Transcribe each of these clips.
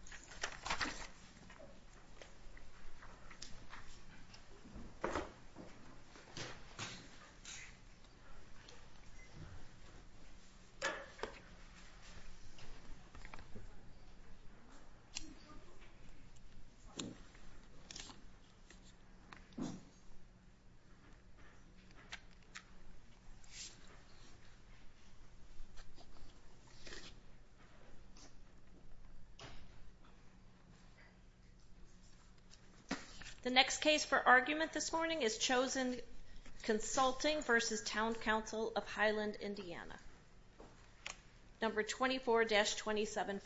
v. Town Council of Highland, Indi The next case for argument this morning is Chosen Consulting v. Town Council of Highland, Indi number 24-2714.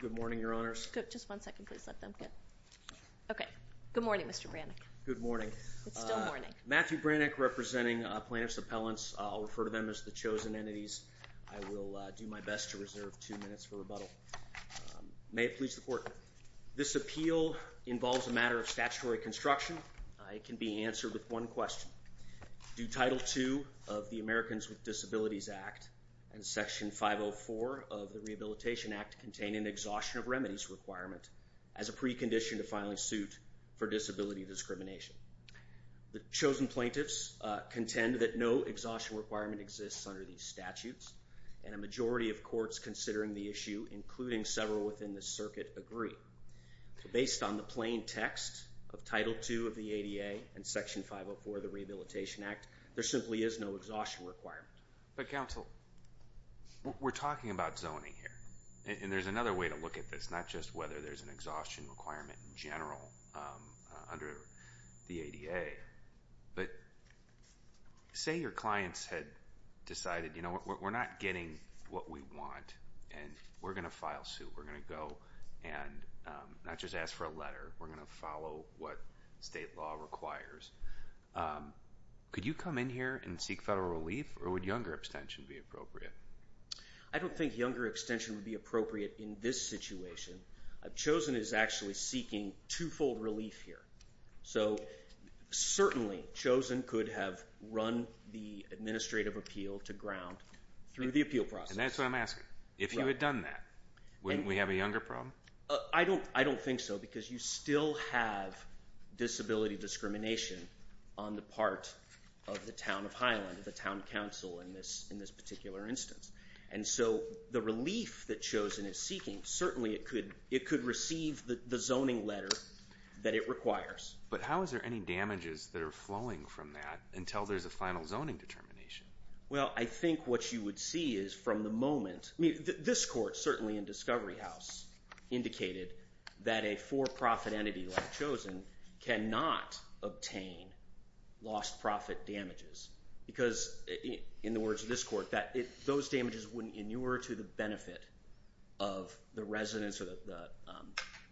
Good morning, Your Honors. Just one second, please. Okay. Good morning, Mr. Brannick. Good morning. Matthew Brannick, representing plaintiffs' appellants. I'll refer to them as the chosen entities. I will do my best to reserve two minutes for rebuttal. May it please the Court, this appeal involves a matter of statutory construction. It can be answered with one question. Do Title II of the Americans with Disabilities Act and Section 504 of the Rehabilitation Act contain an exhaustion of remedies requirement as a precondition to filing suit for disability discrimination? The chosen plaintiffs contend that no exhaustion requirement exists under these statutes, and a majority of courts considering the issue, including several within the circuit, agree. Based on the plain text of Title II of the ADA and Section 504 of the Rehabilitation Act, there simply is no exhaustion requirement. But, counsel, we're talking about zoning here. And there's another way to look at this, not just whether there's an exhaustion requirement in general under the ADA. But, say your clients had decided, you know, we're not getting what we want, and we're going to file suit. We're going to go and not just ask for a letter, we're going to follow what state law requires. Could you come in here and seek federal relief, or would younger abstention be appropriate? I don't think younger abstention would be appropriate in this situation. Chosen is actually seeking two-fold relief here. So, certainly, Chosen could have run the administrative appeal to ground through the appeal process. And that's what I'm asking. If you had done that, wouldn't we have a younger problem? I don't think so, because you still have disability discrimination on the part of the town of Highland, the town in this particular instance. And so the relief that Chosen is seeking, certainly it could receive the zoning letter that it requires. But how is there any damages that are flowing from that until there's a final zoning determination? Well, I think what you would see is from the moment, I mean, this court, certainly in Discovery House, indicated that a for-profit entity like Chosen cannot obtain lost profit damages. Because, in the words of this court, those damages wouldn't inure to the benefit of the residents or the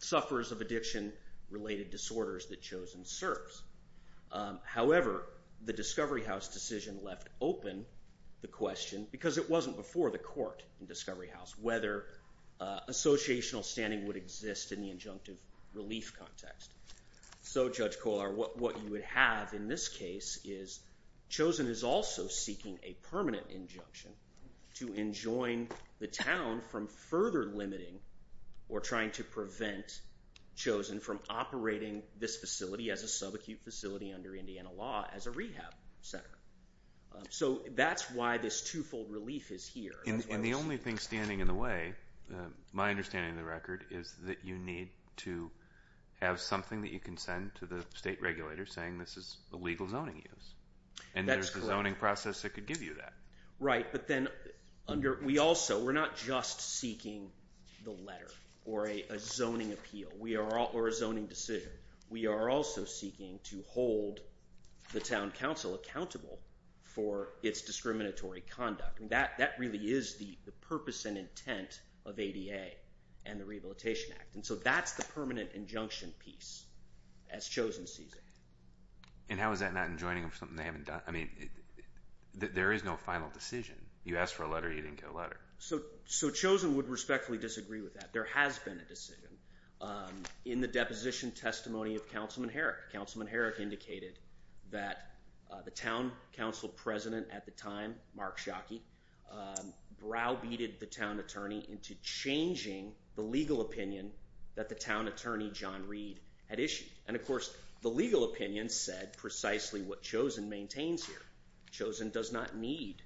sufferers of addiction-related disorders that Chosen serves. However, the Discovery House decision left open the question, because it wasn't before the court in Discovery House, whether associational standing would exist in the injunctive relief context. So, Judge Kolar, what you would have in this case is Chosen is also seeking a permanent injunction to enjoin the town from further limiting or trying to prevent Chosen from operating this facility as a sub-acute facility under Indiana law as a rehab center. So that's why this two-fold relief is here. And the only thing standing in the way, my understanding of the record, is that you need to have something that you can send to the state regulator saying this is a legal zoning use. And there's a zoning process that could give you that. Right. But then, we're not just seeking the letter or a zoning appeal or a zoning decision. We are also seeking to hold the town council accountable for its discriminatory conduct. That really is the purpose and intent of ADA and the Rehabilitation Act. And so that's the permanent injunction piece as Chosen sees it. And how is that not enjoining of something they haven't done? I mean, there is no final decision. You asked for a letter, you didn't get a letter. So Chosen would respectfully disagree with that. There has been a decision in the deposition testimony of Councilman Herrick. Councilman Herrick indicated that the town council president at the time, Mark Schocke, browbeated the town attorney into changing the legal opinion that the town attorney, John Reed, had issued. And of course, the legal opinion said precisely what Chosen maintains here. Chosen does not need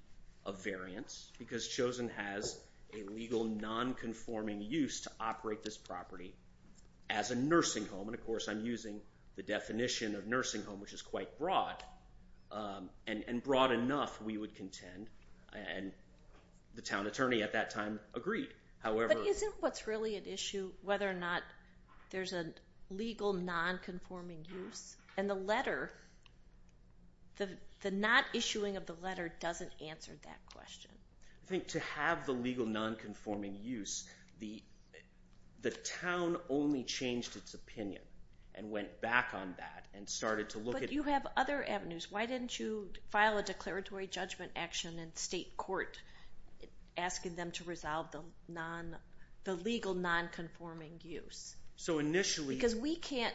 a variance because Chosen has a legal non-conforming use to operate this property as a nursing home. And of course, I'm using the definition of nursing home, which is quite broad. And broad enough, we would contend. And the town attorney at that time agreed. But isn't what's really at issue whether or not there's a legal non-conforming use? And the letter, the not issuing of the letter doesn't answer that question. I think to have the legal non-conforming use, the town only changed its opinion and went back on that and started to look at... But you have other avenues. Why didn't you file a declaratory judgment action in state court asking them to resolve the legal non-conforming use? Because we can't...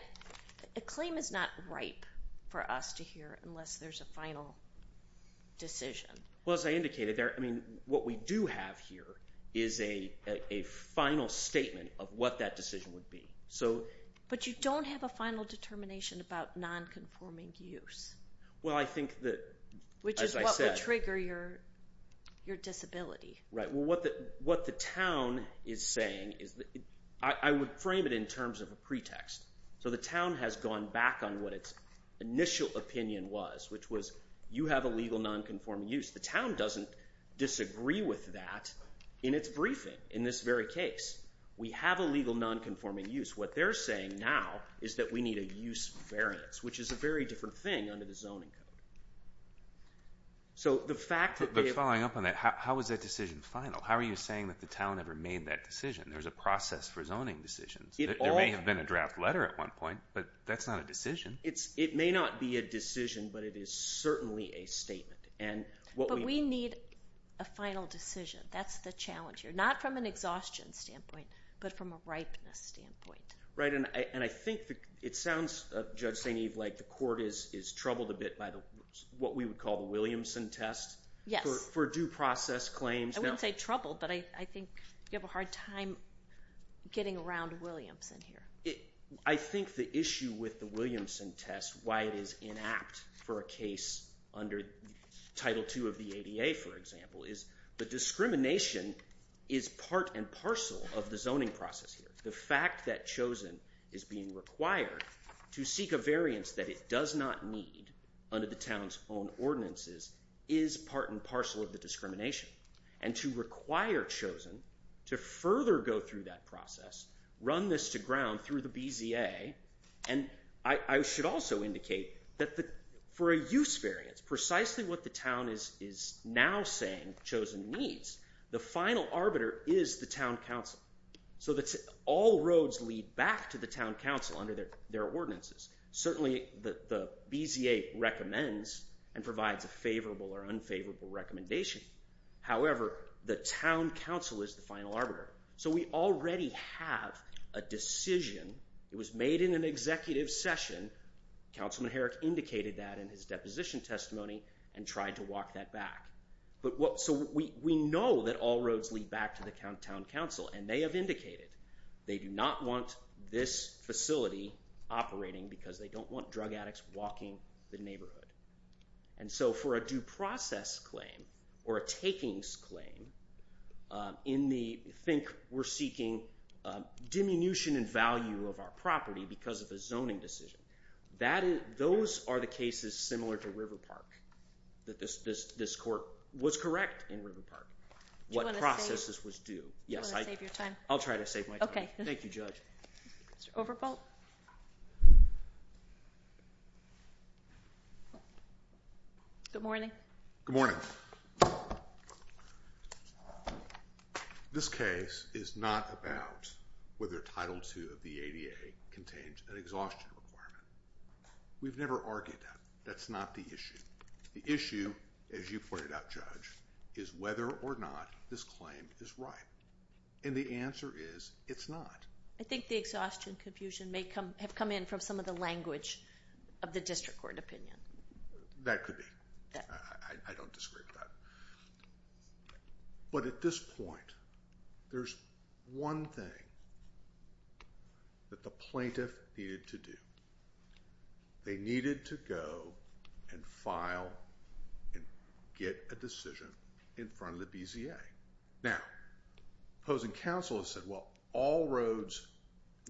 A claim is not ripe for us to hear unless there's a final decision. Well, as I indicated, what we do have here is a final statement of what that decision would be. But you don't have a final determination about non-conforming use. Well, I think that... Which is what would trigger your disability. Right. Well, what the town is saying is... I would frame it in terms of a pretext. So the town has gone back on what its initial opinion was, which was you have a legal non-conforming use. The town doesn't disagree with that in its briefing in this very case. We have a legal non-conforming use. What they're saying now is that we need a use variance, which is a very different thing under the zoning code. So the fact that... But following up on that, how is that decision final? How are you saying that the town ever made that decision? There's a process for zoning decisions. There may have been a draft letter at one point, but that's not a decision. It may not be a decision, but it is certainly a statement. But we need a final decision. That's the challenge here. Not from an exhaustion standpoint, but from a ripeness standpoint. Right. And I think it sounds, Judge St. Eve, like the court is troubled a bit by what we would call the Williamson test. Yes. For due process claims. I wouldn't say troubled, but I think you have a hard time getting around Williamson here. I think the issue with the Williamson test, why it is inapt for a case under Title II of the ADA, for example, is the discrimination is part and parcel of the zoning process here. The fact that Chosen is being required to seek a variance that it does not need under the town's own ordinances is part and parcel of the discrimination. And to require Chosen to further go through that process, run this to ground through the BZA, and I should also indicate that for a use variance, precisely what the town is now saying Chosen needs, the final arbiter is the town council. So all roads lead back to the town council under their ordinances. Certainly the BZA recommends and provides a favorable or unfavorable recommendation. However, the town council is the final arbiter. So we already have a decision. It was made in an executive session. Councilman Herrick indicated that in his deposition testimony and tried to walk that back. So we know that all roads lead back to the town council, and they have indicated they do not want this facility operating because they don't want drug addicts walking the neighborhood. And so for a due process claim or a takings claim in the think we're seeking diminution in value of our property because of a zoning decision, those are the cases similar to River Park. This court was correct in River Park. What processes was due. I'll try to save my time. Thank you, Judge. Mr. Overbold. Good morning. This case is not about whether Title II of the ADA contains an exhaustion requirement. We've never argued that. That's not the issue. The issue, as you pointed out, Judge, is whether or not this claim is right. And the answer is it's not. I think the exhaustion confusion may have come in from some of the language of the district court opinion. That could be. I don't disagree with that. But at this point, there's one thing that the plaintiff needed to do. They needed to go and file and get a decision in front of the BZA. Now, opposing counsel has said, well, all roads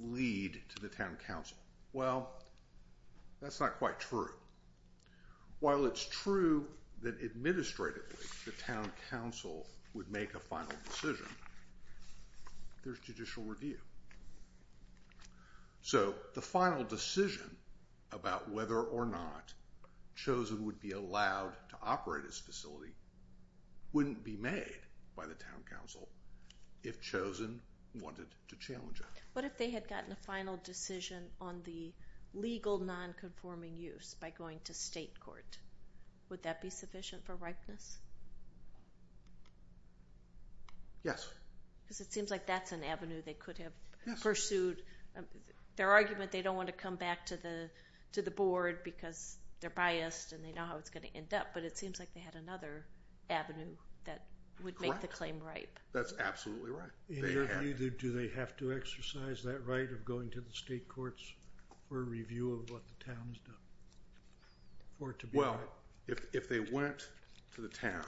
lead to the town council. Well, that's not quite true. While it's true that administratively the town council would make a final decision, there's judicial review. So the final decision about whether or not Chosen would be allowed to operate its facility wouldn't be made by the town council if Chosen wanted to challenge it. What if they had gotten a final decision on the legal nonconforming use by going to state court? Would that be sufficient for ripeness? Yes. Because it seems like that's an avenue they could have pursued. Their argument, they don't want to come back to the board because they're biased and they know how it's going to end up. But it seems like they had another avenue that would make the claim ripe. That's absolutely right. Do they have to exercise that right of going to the state courts for a review of what the town's done? Well, if they went to the town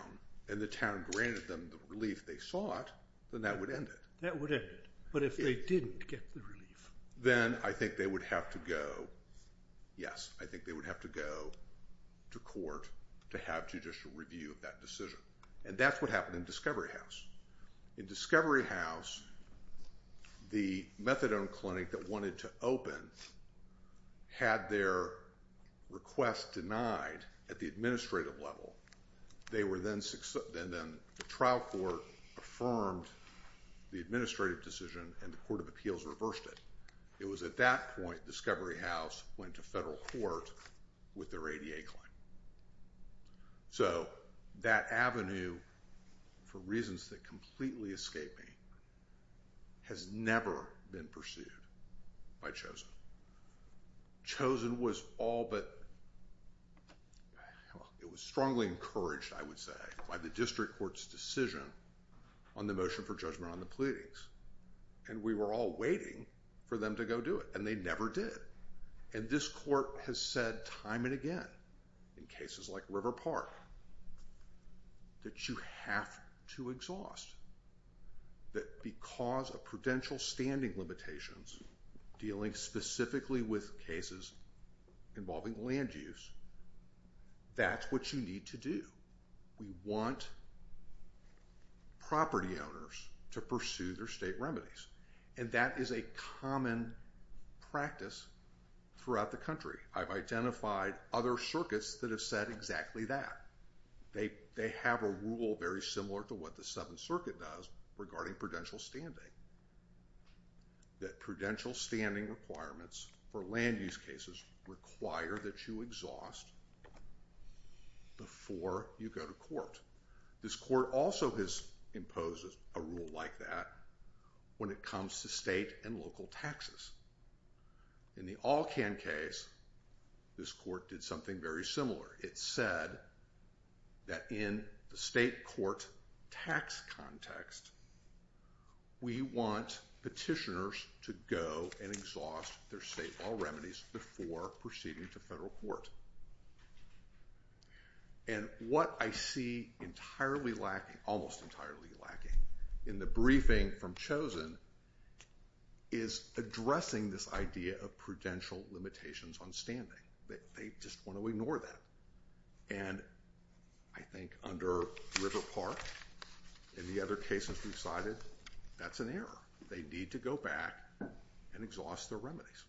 and the town granted them the relief they sought, then that would end it. That would end it. But if they didn't get the relief? Then I think they would have to go to court to have judicial review of that decision. And that's what happened in Discovery House. In Discovery House the methadone clinic that wanted to open had their request denied at the administrative level. The trial court affirmed the administrative decision and the court of appeals reversed it. It was at that point that Discovery House went to federal court with their ADA claim. So that avenue, for reasons that completely escape me, has never been pursued by Chosin. Chosin was all but, it was strongly encouraged I would say, by the district court's decision on the motion for and we were all waiting for them to go do it. And they never did. And this court has said time and again, in cases like River Park, that you have to exhaust. That because of prudential standing limitations dealing specifically with cases involving land use, that's what you need to do. We want property owners to pursue their state remedies. And that is a common practice throughout the country. I've identified other circuits that have said exactly that. They have a rule very similar to what the Seventh Circuit does regarding prudential standing. That prudential standing requirements for land use cases require that you exhaust before you go to court. This court also has imposed a rule like that when it comes to state and local taxes. In the All Can case, this court did something very similar. It said that in the state court tax context, we want petitioners to go and exhaust their state law remedies before proceeding to federal court. And what I see almost entirely lacking in the briefing from Chosen is addressing this idea of prudential limitations on standing. They just want to ignore that. And I think under River Park and the other cases we've cited, that's an error. They need to go back and exhaust their remedies.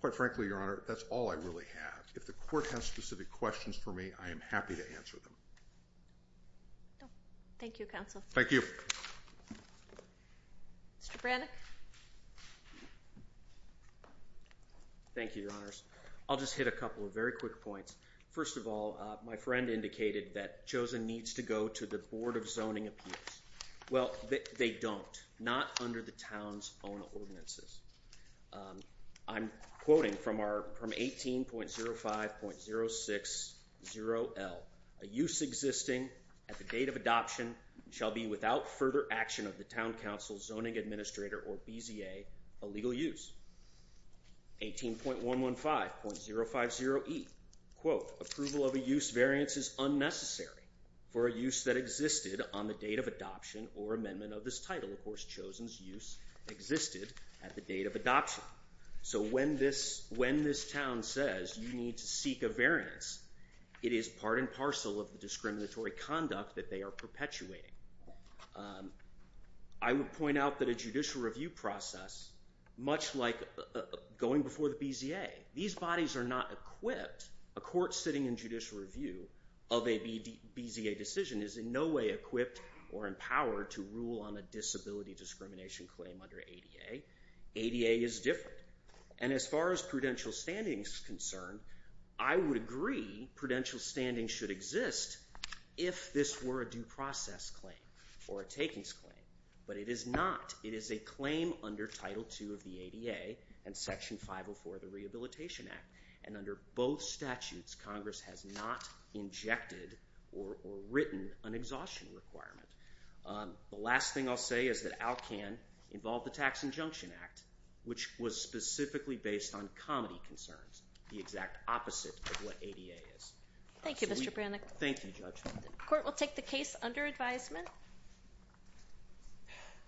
Quite frankly, Your Honor, that's all I really have. If the court has specific questions for me, I am happy to answer them. Thank you, Counsel. Mr. Brannick. Thank you, Your Honors. I'll just hit a couple of very quick points. First of all, my friend indicated that Chosen needs to go to the Board of Zoning Appeals. Well, they don't. Not under the town's own ordinances. I'm quoting from 18.05.060L. A use existing at the date of adoption shall be without further action of the town council, zoning administrator, or BZA a legal use. 18.115.050E. Quote, approval of a use variance is unnecessary for a use that existed on the date of adoption or amendment of this title. Of course, Chosen's use existed at the date of adoption. So when this town says you need to seek a variance, it is part and parcel of the discriminatory conduct that they are perpetuating. I would point out that a judicial review process, much like going before the BZA, these bodies are not equipped, a court sitting in judicial review of a BZA decision is in no way equipped or empowered to rule on a disability discrimination claim under ADA. ADA is different. And as far as prudential standings concern, I would agree prudential standings should exist if this were a due process claim or a takings claim. But it is not. It is a claim under Title II of the ADA and Section 504 of the Rehabilitation Act. And under both statutes, Congress has not injected or written an exhaustion requirement. The last thing I'll say is that ALCAN involved the Tax Injunction Act, which was specifically based on comedy concerns, the exact opposite of what ADA is. Thank you, Judge. The Court will take the case under advisement.